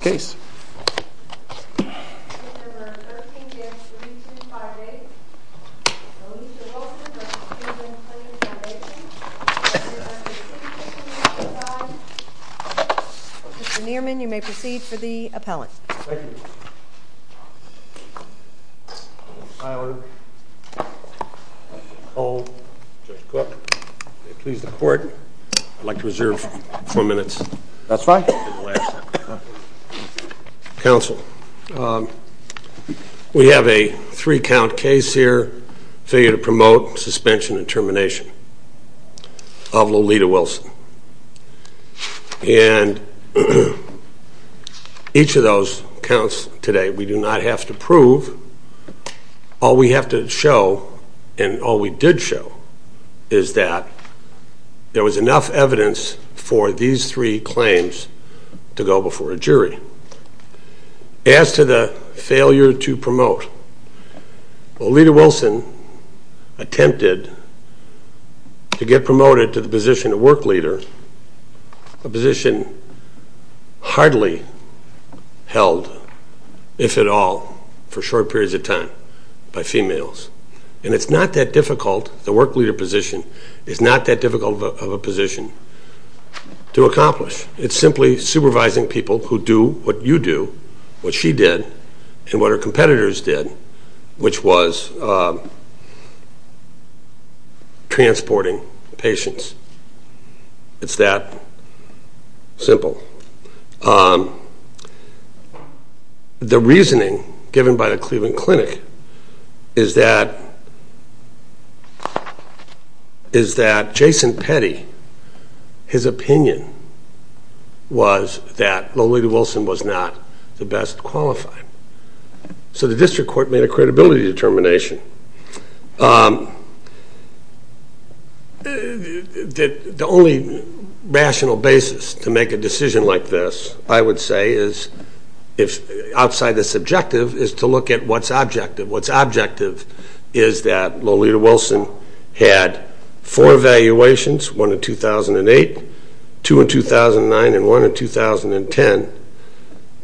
Mr. Nierman, you may proceed for the appellant. Thank you. Mr. Tyler, Mr. Cole, Judge Cook, may it please the Court, I'd like to reserve four minutes that's fine. Counsel, we have a three count case here, failure to promote, suspension and termination of Lolita Wilson, and each of those counts today, we do not have to prove, all we have to show, and all we did show, is that there was enough evidence for these three claims to go before a jury. As to the failure to promote, Lolita Wilson attempted to get promoted to the position of work leader, a position hardly held, if at all, for short periods of time, by females, and it's not that difficult, the work leader position is not that difficult of a position to accomplish. It's simply supervising people who do what you do, what she did, and what her competitors did, which was transporting patients. It's that simple. The reasoning given by the Cleveland Clinic is that Jason Petty, his opinion was that Lolita Wilson was not the best qualified. So the district court made a credibility determination. The only rational basis to make a decision like this, I would say, outside the subjective, is to look at what's objective. What's objective is that Lolita Wilson had four evaluations, one in 2008, two in 2009, and one in 2010,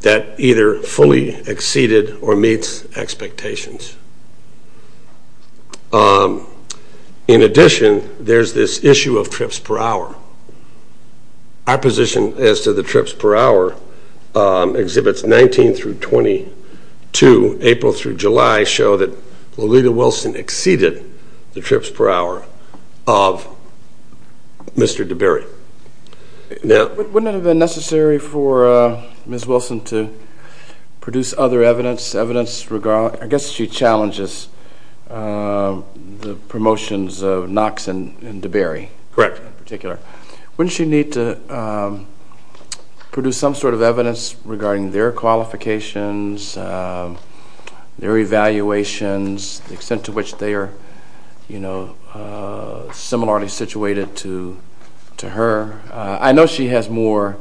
that either fully exceeded or meets expectations. In addition, there's this issue of trips per hour. Our position as to the trips per hour exhibits 19 through 22, April through July, show that Lolita Wilson exceeded the trips per hour of Mr. DeBerry. Now, wouldn't it have been necessary for Ms. Wilson to produce other evidence, evidence regarding, I guess she challenges the promotions of Knox and DeBerry. Correct. In particular. Wouldn't she need to produce some sort of evidence regarding their qualifications, their I know she has more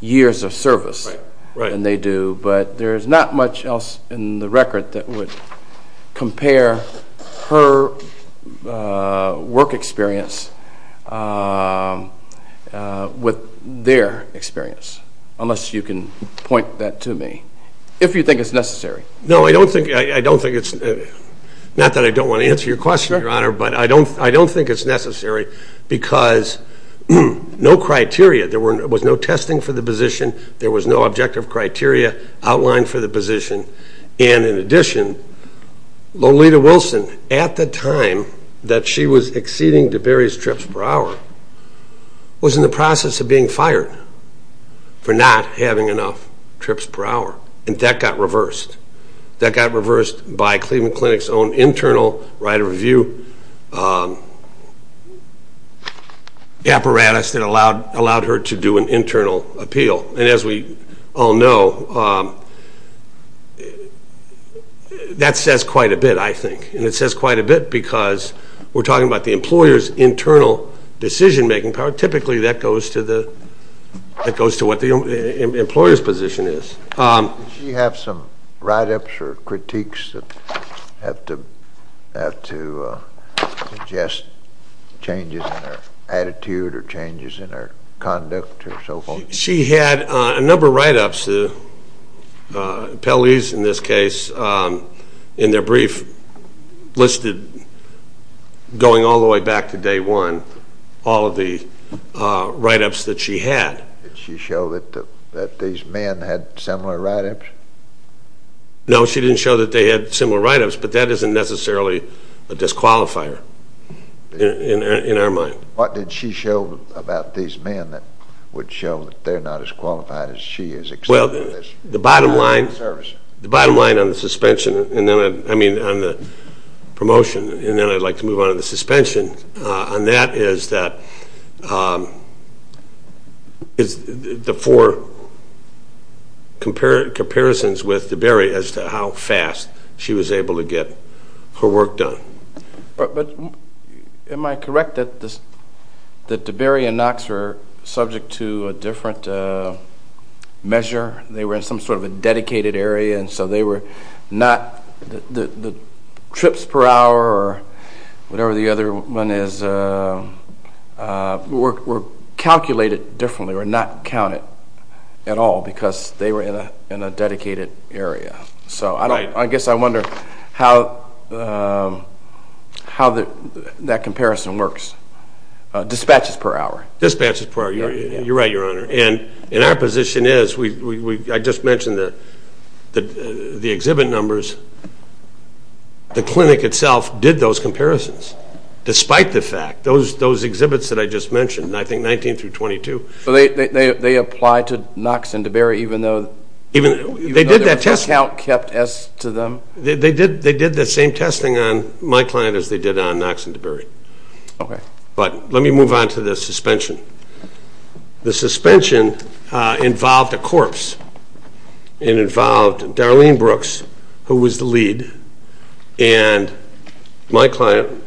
years of service than they do, but there's not much else in the record that would compare her work experience with their experience, unless you can point that to me. If you think it's necessary. No, I don't think, I don't think it's, not that I don't want to answer your question, I don't think it's necessary because no criteria, there was no testing for the position, there was no objective criteria outlined for the position, and in addition, Lolita Wilson, at the time that she was exceeding DeBerry's trips per hour, was in the process of being fired for not having enough trips per hour, and that got reversed. That got reversed by Cleveland Clinic's own internal right of review apparatus that allowed her to do an internal appeal, and as we all know, that says quite a bit, I think, and it says quite a bit because we're talking about the employer's internal decision making power, typically that goes to the, that goes to what the employer's position is. Did she have some write-ups or critiques that have to, have to suggest changes in her attitude or changes in her conduct or so forth? She had a number of write-ups, the appellees in this case, in their brief listed, going all the way back to day one, all of the write-ups that she had. Did she show that these men had similar write-ups? No, she didn't show that they had similar write-ups, but that isn't necessarily a disqualifier in our mind. What did she show about these men that would show that they're not as qualified as she is except for this? Well, the bottom line, the bottom line on the suspension, and then, I mean, on the promotion, and then I'd like to move on to the suspension, on that is that, is the four comparisons with DeBerry as to how fast she was able to get her work done. But am I correct that DeBerry and Knox were subject to a different measure? They were in some sort of a dedicated area, and so they were not, the trips per hour or whatever the other one is, were calculated differently or not counted at all because they were in a dedicated area. So I guess I wonder how that comparison works, dispatches per hour. Dispatches per hour. You're right, Your Honor. And our position is, I just mentioned the exhibit numbers, the clinic itself did those comparisons despite the fact, those exhibits that I just mentioned, I think 19 through 22. So they applied to Knox and DeBerry even though their account kept S to them? They did the same testing on my client as they did on Knox and DeBerry. But let me move on to the suspension. The suspension involved a corpse, it involved Darlene Brooks, who was the lead, and my client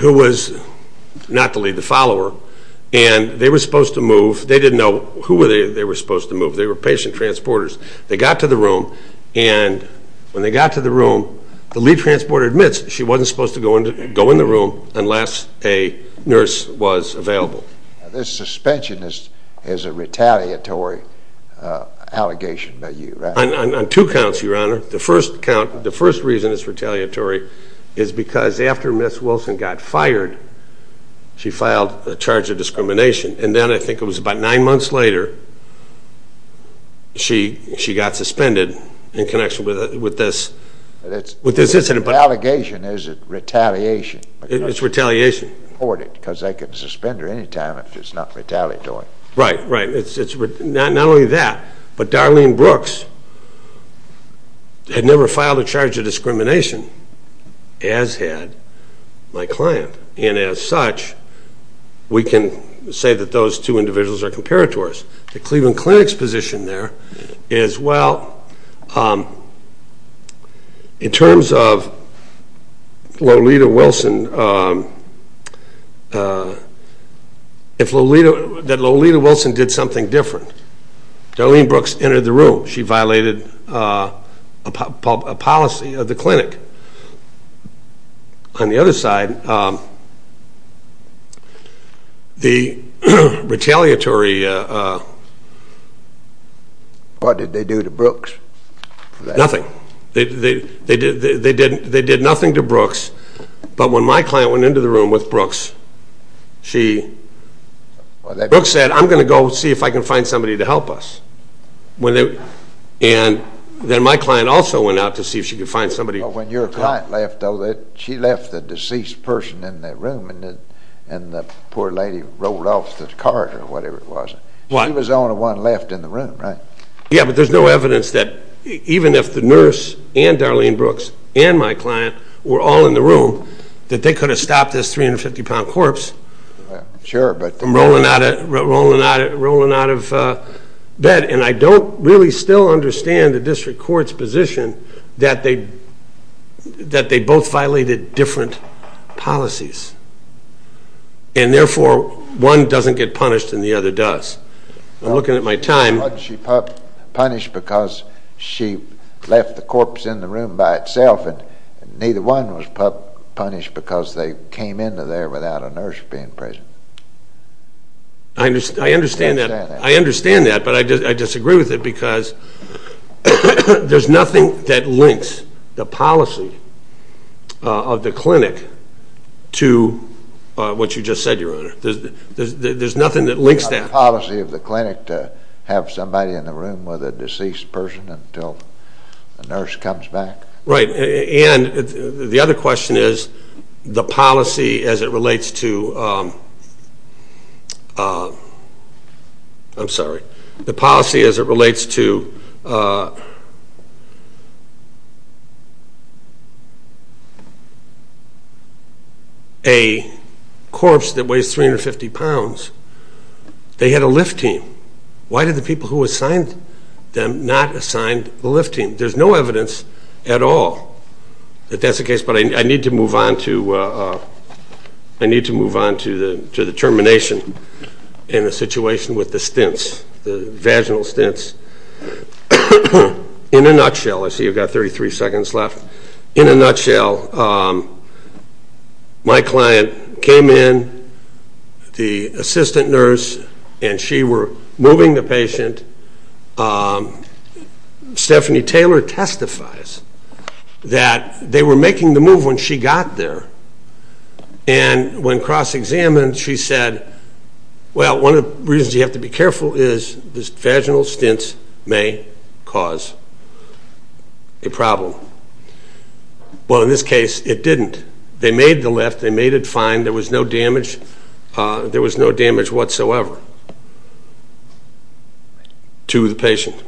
who was not the lead, the follower, and they were supposed to move. They didn't know who they were supposed to move. They were patient transporters. They got to the room and when they got to the room, the lead transporter admits she wasn't supposed to go in the room unless a nurse was available. This suspension is a retaliatory allegation by you, right? On two counts, Your Honor. The first count, the first reason it's retaliatory is because after Ms. Wilson got fired, she filed a charge of discrimination and then I think it was about nine months later, she got suspended in connection with this incident. The allegation, is it retaliation? It's retaliation. Because they can suspend her any time if it's not retaliatory. Right, right. It's not only that, but Darlene Brooks had never filed a charge of discrimination as had my client and as such, we can say that those two individuals are comparators. The Cleveland Clinic's position there is, well, in terms of Lolita Wilson, that Lolita Wilson did something different. Darlene Brooks entered the room. I think on the other side, the retaliatory... What did they do to Brooks for that? Nothing. They did nothing to Brooks, but when my client went into the room with Brooks, Brooks said, I'm going to go see if I can find somebody to help us. And then my client also went out to see if she could find somebody. When your client left, though, she left the deceased person in that room and the poor lady rolled off the corridor or whatever it was. She was the only one left in the room, right? Yeah, but there's no evidence that even if the nurse and Darlene Brooks and my client were all in the room, that they could have stopped this 350-pound corpse from rolling out of bed. And I don't really still understand the district court's position that they both violated different policies. And therefore, one doesn't get punished and the other does. I'm looking at my time. Why didn't she punish because she left the corpse in the room by itself and neither one was punished because they came into there without a nurse being present? I understand that. I understand that, but I disagree with it because there's nothing that links the policy of the clinic to what you just said, Your Honor. There's nothing that links that. The policy of the clinic to have somebody in the room with a deceased person until the nurse comes back? Right. And the other question is the policy as it relates to, I'm sorry, the policy as it relates to a corpse that weighs 350 pounds. They had a lift team. Why did the people who assigned them not assign the lift team? There's no evidence at all that that's the case, but I need to move on to the termination and the situation with the stints, the vaginal stints. In a nutshell, I see you've got 33 seconds left. In a nutshell, my client came in, the assistant nurse, and she were moving the patient. And Stephanie Taylor testifies that they were making the move when she got there. And when cross-examined, she said, well, one of the reasons you have to be careful is this vaginal stints may cause a problem. Well, in this case, it didn't. They made the lift. They made it fine. There was no damage. There was no damage whatsoever to the patient.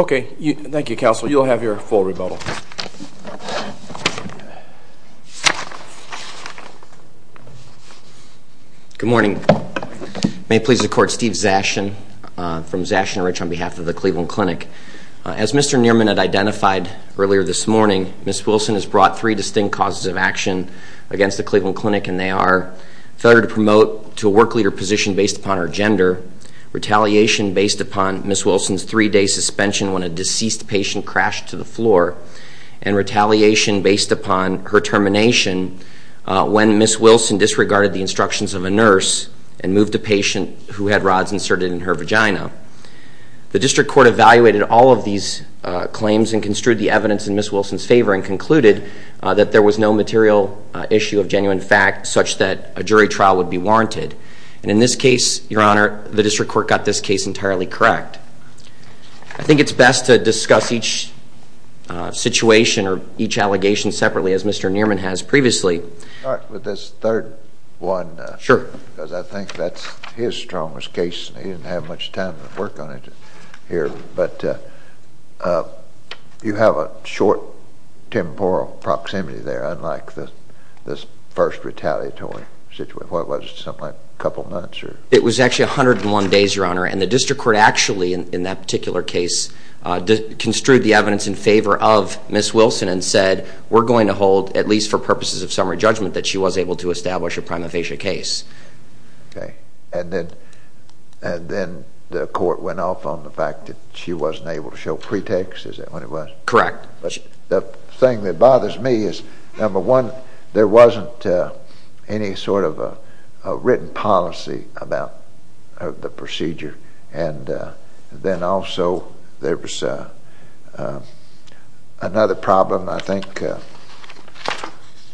OK. Thank you, Counselor. You'll have your full rebuttal. Good morning. May it please the Court, Steve Zashin from Zashin & Rich on behalf of the Cleveland Clinic. As Mr. Nierman had identified earlier this morning, Ms. Wilson has brought three distinct causes of action against the Cleveland Clinic, and they are failure to promote to a work leader position based upon her gender, retaliation based upon Ms. Wilson's three-day suspension when a deceased patient crashed to the floor, and retaliation based upon her termination when Ms. Wilson disregarded the instructions of a nurse and moved a patient who had rods inserted in her vagina. The District Court evaluated all of these claims and construed the evidence in Ms. Wilson's favor. There was no material issue of genuine fact such that a jury trial would be warranted. And in this case, Your Honor, the District Court got this case entirely correct. I think it's best to discuss each situation or each allegation separately, as Mr. Nierman has previously. All right. With this third one. Sure. Because I think that's his strongest case, and he didn't have much time to work on it here. But you have a short temporal proximity there, unlike this first retaliatory situation. What was it? Something like a couple of months? It was actually 101 days, Your Honor. And the District Court actually, in that particular case, construed the evidence in favor of Ms. Wilson and said, we're going to hold, at least for purposes of summary judgment, that she was able to establish a prima facie case. Okay. And then the court went off on the fact that she wasn't able to show pretexts? Is that what it was? Correct. The thing that bothers me is, number one, there wasn't any sort of a written policy about the procedure. And then also, there was another problem, I think,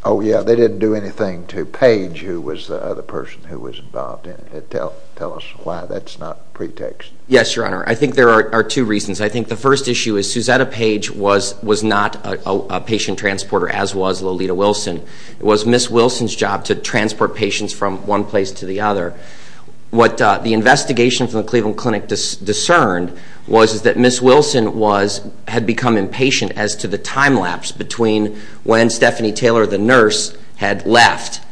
oh, yeah, they didn't do anything to Page, who was the other person who was involved in it. Tell us why that's not pretext. Yes, Your Honor. I think there are two reasons. I think the first issue is Suzetta Page was not a patient transporter, as was Lolita Wilson. It was Ms. Wilson's job to transport patients from one place to the other. What the investigation from the Cleveland Clinic discerned was that Ms. Wilson had become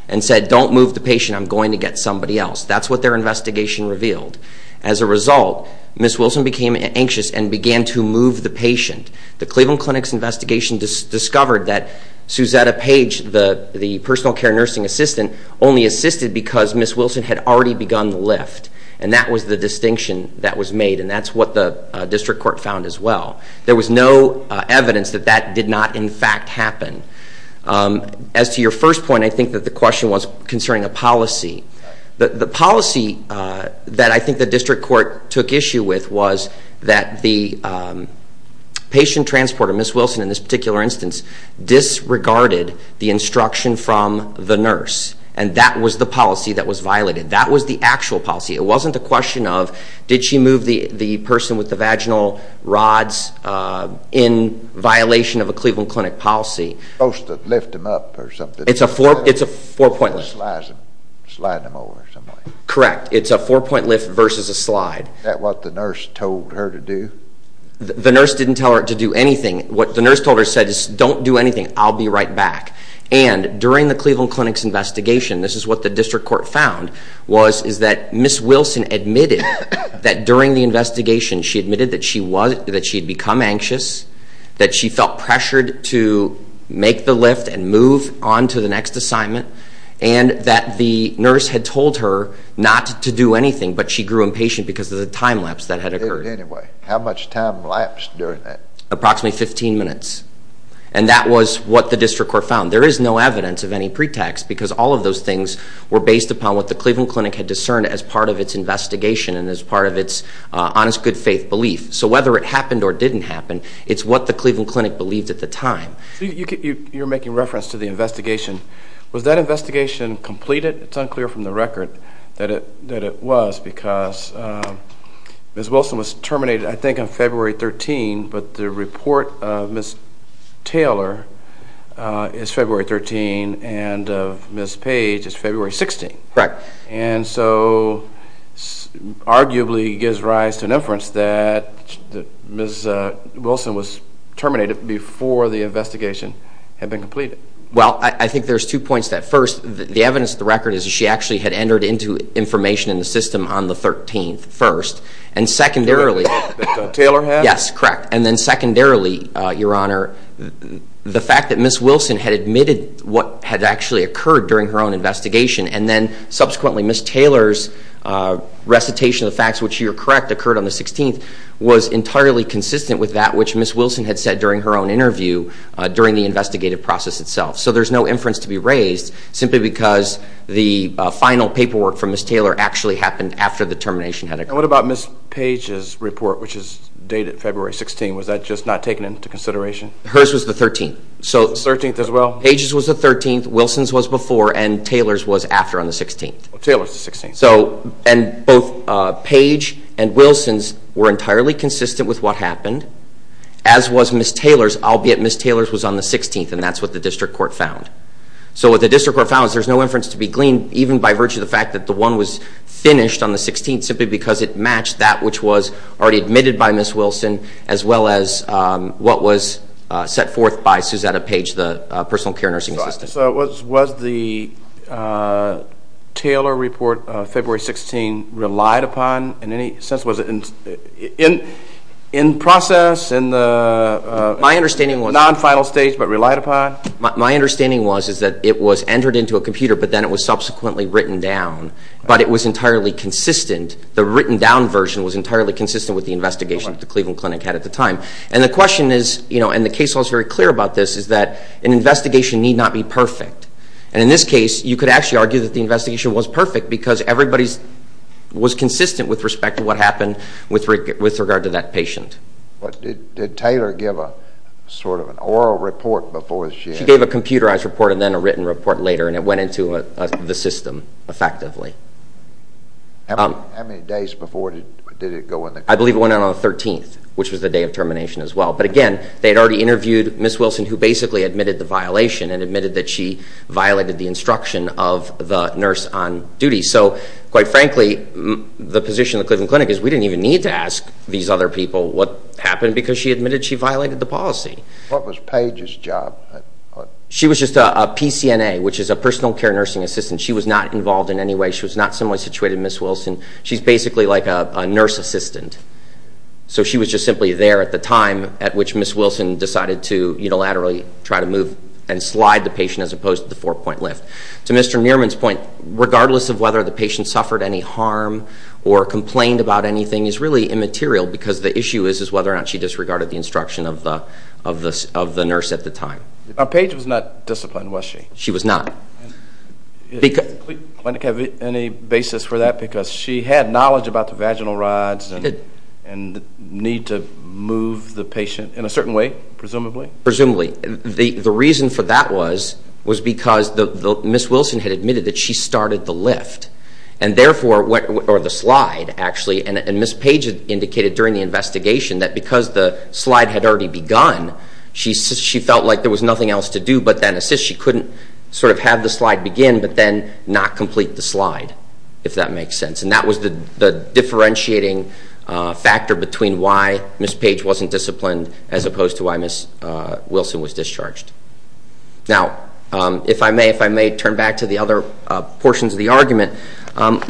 and said, don't move the patient, I'm going to get somebody else. That's what their investigation revealed. As a result, Ms. Wilson became anxious and began to move the patient. The Cleveland Clinic's investigation discovered that Suzetta Page, the personal care nursing assistant, only assisted because Ms. Wilson had already begun the lift. And that was the distinction that was made. And that's what the district court found as well. There was no evidence that that did not, in fact, happen. As to your first point, I think that the question was concerning a policy. The policy that I think the district court took issue with was that the patient transporter, Ms. Wilson in this particular instance, disregarded the instruction from the nurse. And that was the policy that was violated. That was the actual policy. It wasn't the question of, did she move the person with the vaginal rods in violation of a Cleveland Clinic policy. Supposed to lift them up or something. It's a four point lift. Sliding them over or something. Correct. It's a four point lift versus a slide. Is that what the nurse told her to do? The nurse didn't tell her to do anything. What the nurse told her is, don't do anything, I'll be right back. And during the Cleveland Clinic's investigation, this is what the district court found, is that Ms. Wilson admitted that during the investigation, she admitted that she had become anxious, that she felt pressured to make the lift and move on to the next assignment, and that the nurse had told her not to do anything, but she grew impatient because of the time lapse that had occurred. Anyway, how much time lapsed during that? Approximately 15 minutes. And that was what the district court found. There is no evidence of any pretext, because all of those things were based upon what the Cleveland Clinic had discerned as part of its investigation and as part of its honest, good faith belief. So whether it happened or didn't happen, it's what the Cleveland Clinic believed at the time. You're making reference to the investigation. Was that investigation completed? It's unclear from the record that it was, because Ms. Wilson was terminated, I think, on February 13, but the report of Ms. Taylor is February 13, and of Ms. Page is February 16. Correct. And so, arguably, it gives rise to an inference that Ms. Wilson was terminated before the investigation had been completed. Well, I think there's two points to that. First, the evidence of the record is that she actually had entered into information in the system on the 13th first, and secondarily... That Taylor had? Yes, correct. And then secondarily, Your Honor, the fact that Ms. Wilson had admitted what had actually occurred during her own investigation, and then subsequently Ms. Taylor's recitation of the facts which you're correct occurred on the 16th, was entirely consistent with that which Ms. Wilson had said during her own interview during the investigative process itself. So there's no inference to be raised, simply because the final paperwork from Ms. Taylor actually happened after the termination had occurred. And what about Ms. Page's report, which is dated February 16? Was that just not taken into consideration? Hers was the 13th. So... The 13th as well? Page's was the 13th, Wilson's was before, and Taylor's was after on the 16th. Taylor's the 16th. So, and both Page and Wilson's were entirely consistent with what happened, as was Ms. Taylor's, albeit Ms. Taylor's was on the 16th, and that's what the district court found. So what the district court found is there's no inference to be gleaned, even by virtue of the fact that the one was finished on the 16th, simply because it matched that which was already admitted by Ms. Wilson, as well as what was set forth by Suzetta Page, the personal care nursing assistant. So was the Taylor report February 16 relied upon in any sense? Was it in process, in the non-final stage, but relied upon? My understanding was that it was entered into a computer, but then it was subsequently written down. But it was entirely consistent, the written down version was entirely consistent with the investigation that the Cleveland Clinic had at the time. And the question is, you know, and the case law is very clear about this, is that an investigation need not be perfect. And in this case, you could actually argue that the investigation was perfect, because everybody was consistent with respect to what happened with regard to that patient. But did Taylor give a sort of an oral report before she? She gave a computerized report, and then a written report later, and it went into the system, effectively. How many days before did it go in the clinic? I believe it went in on the 13th, which was the day of termination as well. But again, they had already interviewed Ms. Wilson, who basically admitted the violation and admitted that she violated the instruction of the nurse on duty. So quite frankly, the position of the Cleveland Clinic is we didn't even need to ask these other people what happened, because she admitted she violated the policy. What was Page's job? She was just a PCNA, which is a personal care nursing assistant. She was not involved in any way. She was not similarly situated to Ms. Wilson. She's basically like a nurse assistant. So she was just simply there at the time at which Ms. Wilson decided to unilaterally try to move and slide the patient, as opposed to the four-point lift. To Mr. Nierman's point, regardless of whether the patient suffered any harm or complained about anything is really immaterial, because the issue is whether or not she disregarded the instruction of the nurse at the time. Page was not disciplined, was she? She was not. Did the Cleveland Clinic have any basis for that, because she had knowledge about the vaginal rods and the need to move the patient in a certain way, presumably? Presumably. The reason for that was because Ms. Wilson had admitted that she started the lift, and therefore, or the slide, actually, and Ms. Page indicated during the investigation that because the slide had already begun, she felt like there was nothing else to do, but then she couldn't sort of have the slide begin, but then not complete the slide, if that makes sense. And that was the differentiating factor between why Ms. Page wasn't disciplined, as opposed to why Ms. Wilson was discharged. Now, if I may, if I may turn back to the other portions of the argument.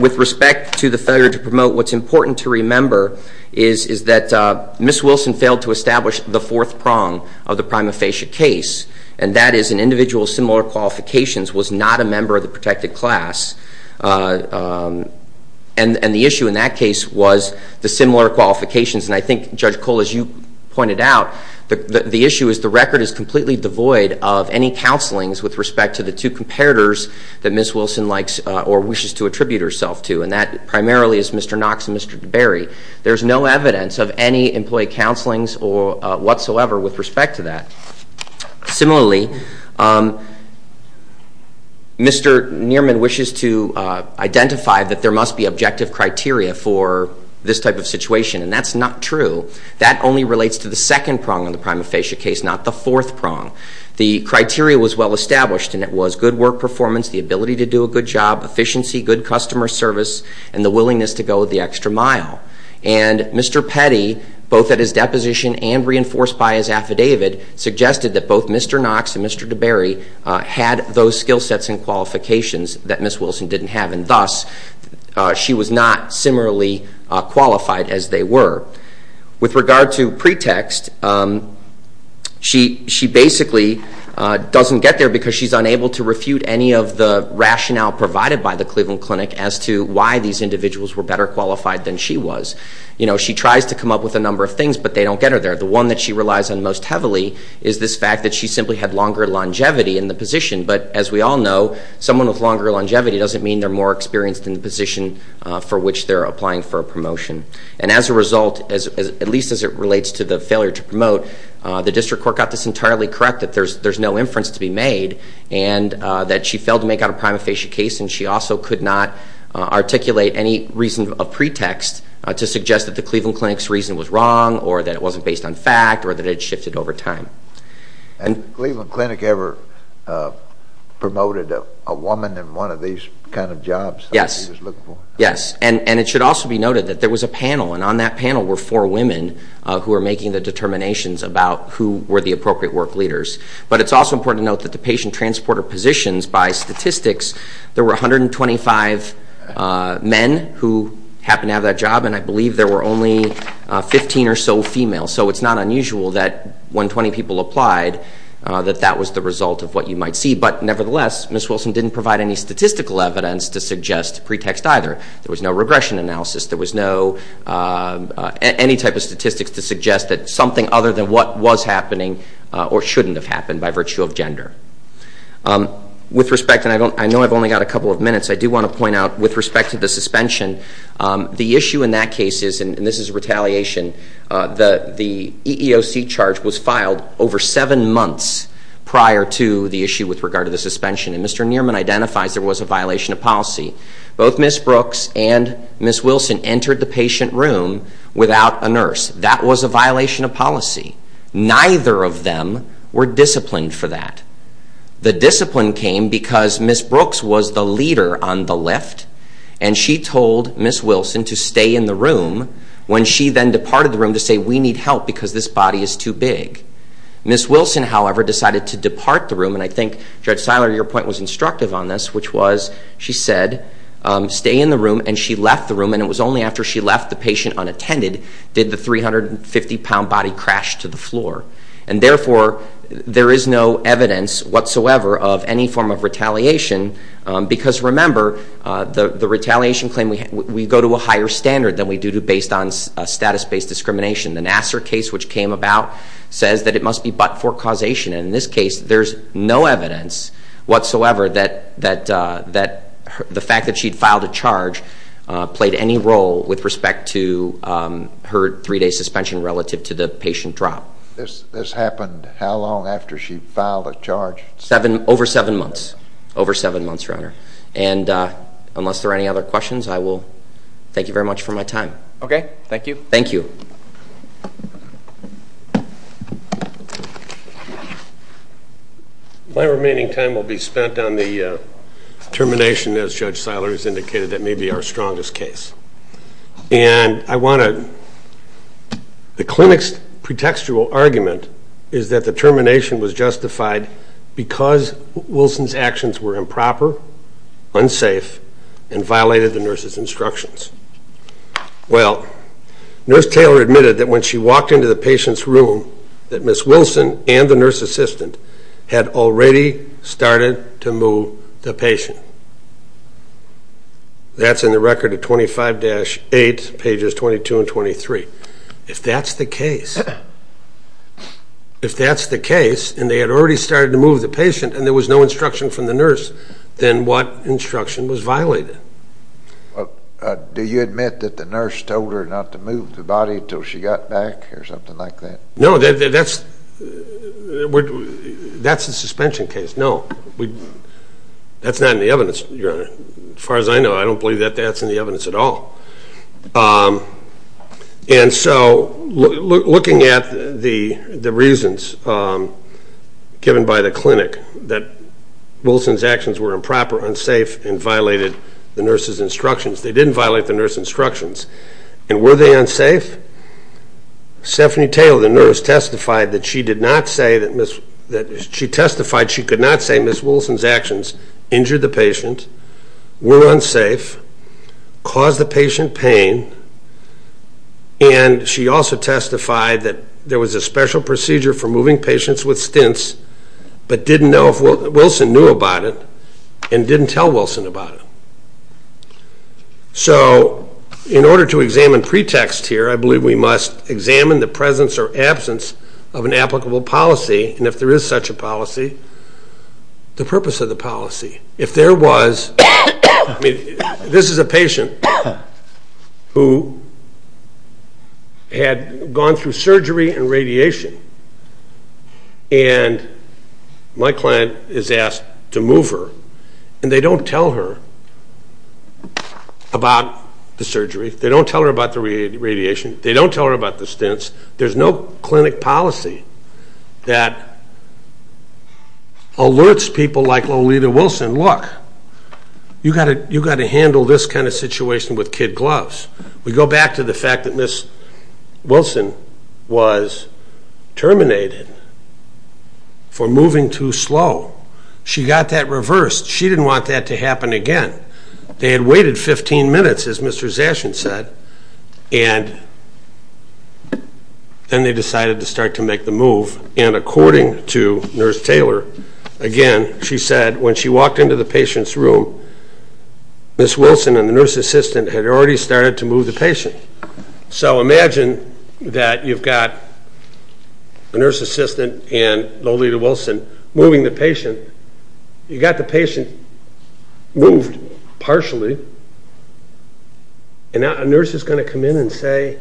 With respect to the failure to promote, what's important to remember is that Ms. Wilson failed to establish the fourth prong of the prima facie case, and that is an individual with similar qualifications was not a member of the protected class, and the issue in that case was the similar qualifications. And I think, Judge Cole, as you pointed out, the issue is the record is completely devoid of any counselings with respect to the two comparators that Ms. Wilson likes or wishes to attribute herself to, and that primarily is Mr. Knox and Mr. DeBerry. There's no evidence of any employee counselings whatsoever with respect to that. Similarly, Mr. Nierman wishes to identify that there must be objective criteria for this type of situation, and that's not true. That only relates to the second prong of the prima facie case, not the fourth prong. The criteria was well established, and it was good work performance, the ability to do a good job, efficiency, good customer service, and the willingness to go the extra mile. And Mr. Petty, both at his deposition and reinforced by his affidavit, suggested that both Mr. Knox and Mr. DeBerry had those skill sets and qualifications that Ms. Wilson didn't have, and thus, she was not similarly qualified as they were. With regard to pretext, she basically doesn't get there because she's unable to refute any of the rationale provided by the Cleveland Clinic as to why these individuals were better qualified than she was. You know, she tries to come up with a number of things, but they don't get her there. The one that she relies on most heavily is this fact that she simply had longer longevity in the position. But as we all know, someone with longer longevity doesn't mean they're more experienced in the position for which they're applying for a promotion. And as a result, at least as it relates to the failure to promote, the district court got this entirely correct, that there's no inference to be made, and that she failed to make out a prima facie case, and she also could not articulate any reason of pretext to suggest that the Cleveland Clinic's reason was wrong, or that it wasn't based on fact, or that it had shifted over time. And Cleveland Clinic ever promoted a woman in one of these kind of jobs? Yes. That she was looking for? Yes. And it should also be noted that there was a panel, and on that panel were four women who were making the determinations about who were the appropriate work leaders. But it's also important to note that the patient transporter positions, by statistics, there were 125 men who happened to have that job, and I believe there were only 15 or so females. So it's not unusual that when 20 people applied, that that was the result of what you might see. But nevertheless, Ms. Wilson didn't provide any statistical evidence to suggest pretext either. There was no regression analysis. There was no, any type of statistics to suggest that something other than what was happening or shouldn't have happened by virtue of gender. With respect, and I know I've only got a couple of minutes, I do want to point out with respect to the suspension, the issue in that case is, and this is a retaliation, the EEOC charge was filed over seven months prior to the issue with regard to the suspension. And Mr. Nierman identifies there was a violation of policy. Both Ms. Brooks and Ms. Wilson entered the patient room without a nurse. That was a violation of policy. Neither of them were disciplined for that. The discipline came because Ms. Brooks was the leader on the lift, and she told Ms. Wilson to stay in the room when she then departed the room to say, we need help because this body is too big. Ms. Wilson, however, decided to depart the room, and I think, Judge Seiler, your point was instructive on this, which was, she said, stay in the room, and she left the room, and it was only after she left the patient unattended did the 350-pound body crash to the floor, and therefore, there is no evidence whatsoever of any form of retaliation because, remember, the retaliation claim, we go to a higher standard than we do based on status-based discrimination. The Nassar case, which came about, says that it must be but for causation, and in this case, there's no evidence whatsoever that the fact that she'd filed a charge played any role with respect to her three-day suspension relative to the patient drop. This happened how long after she filed a charge? Over seven months, over seven months, Your Honor, and unless there are any other questions, I will thank you very much for my time. Okay. Thank you. Thank you. My remaining time will be spent on the termination, as Judge Seiler has indicated, that may be our strongest case. And I want to, the clinic's pretextual argument is that the termination was justified because Wilson's actions were improper, unsafe, and violated the nurse's instructions. Well, Nurse Taylor admitted that when she walked into the patient's room, that Ms. Wilson and the nurse assistant had already started to move the patient. That's in the record of 25-8, pages 22 and 23. If that's the case, if that's the case, and they had already started to move the patient and there was no instruction from the nurse, then what instruction was violated? Do you admit that the nurse told her not to move the body until she got back or something like that? No, that's a suspension case. No, that's not in the evidence, Your Honor. As far as I know, I don't believe that that's in the evidence at all. And so, looking at the reasons given by the clinic, that Wilson's actions were improper, unsafe, and violated the nurse's instructions. They didn't violate the nurse's instructions. And were they unsafe? Stephanie Taylor, the nurse, testified that she did not say that Ms. that she testified she could not say Ms. Wilson's actions injured the patient, were unsafe, caused the patient pain, and she also testified that there was a special procedure for moving patients with stints, but didn't know if Wilson knew about it, and didn't tell Wilson about it. So, in order to examine pretext here, I believe we must examine the presence or absence of an applicable policy, and if there is such a policy, the purpose of the policy. If there was, I mean, this is a patient who had gone through surgery and radiation, and my client is asked to move her, and they don't tell her about the surgery, they don't tell her about the radiation, they don't tell her about the stints, there's no clinic policy that alerts people like Lolita Wilson, look, you've got to handle this kind of situation with kid gloves. We go back to the fact that Ms. Wilson was terminated for moving too slow. She got that reversed. She didn't want that to happen again. They had waited 15 minutes, as Mr. Zashin said, and then they decided to start to make the move, and according to Nurse Taylor, again, she said when she walked into the patient's room, Ms. Wilson and the nurse assistant had already started to move the patient. So, imagine that you've got a nurse assistant and Lolita Wilson moving the patient. You've got the patient moved partially, and now a nurse is going to come in and say,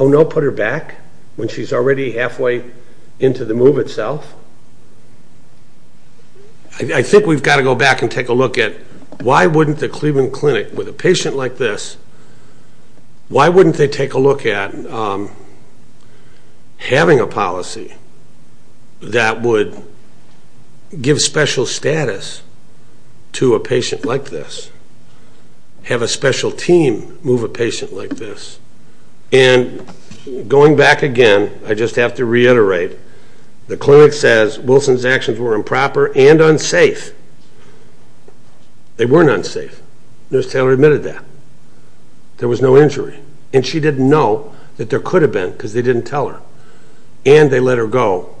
oh no, put her back when she's already halfway into the move itself. I think we've got to go back and take a look at why wouldn't the Cleveland Clinic with a patient like this, why wouldn't they take a look at having a policy that would give special status to a patient like this, have a special team move a patient like this, and going back again, I just have to reiterate, the clinic says Wilson's actions were improper and unsafe. They weren't unsafe. Nurse Taylor admitted that. There was no injury, and she didn't know that there could have been because they didn't tell her, and they let her go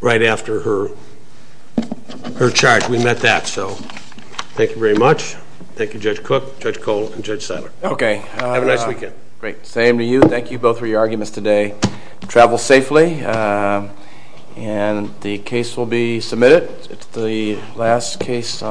right after her charge. We met that, so thank you very much. Thank you, Judge Cook, Judge Cole, and Judge Seiler. Have a nice weekend. Great. Same to you. Thank you both for your arguments today. Travel safely, and the case will be submitted. It's the last case.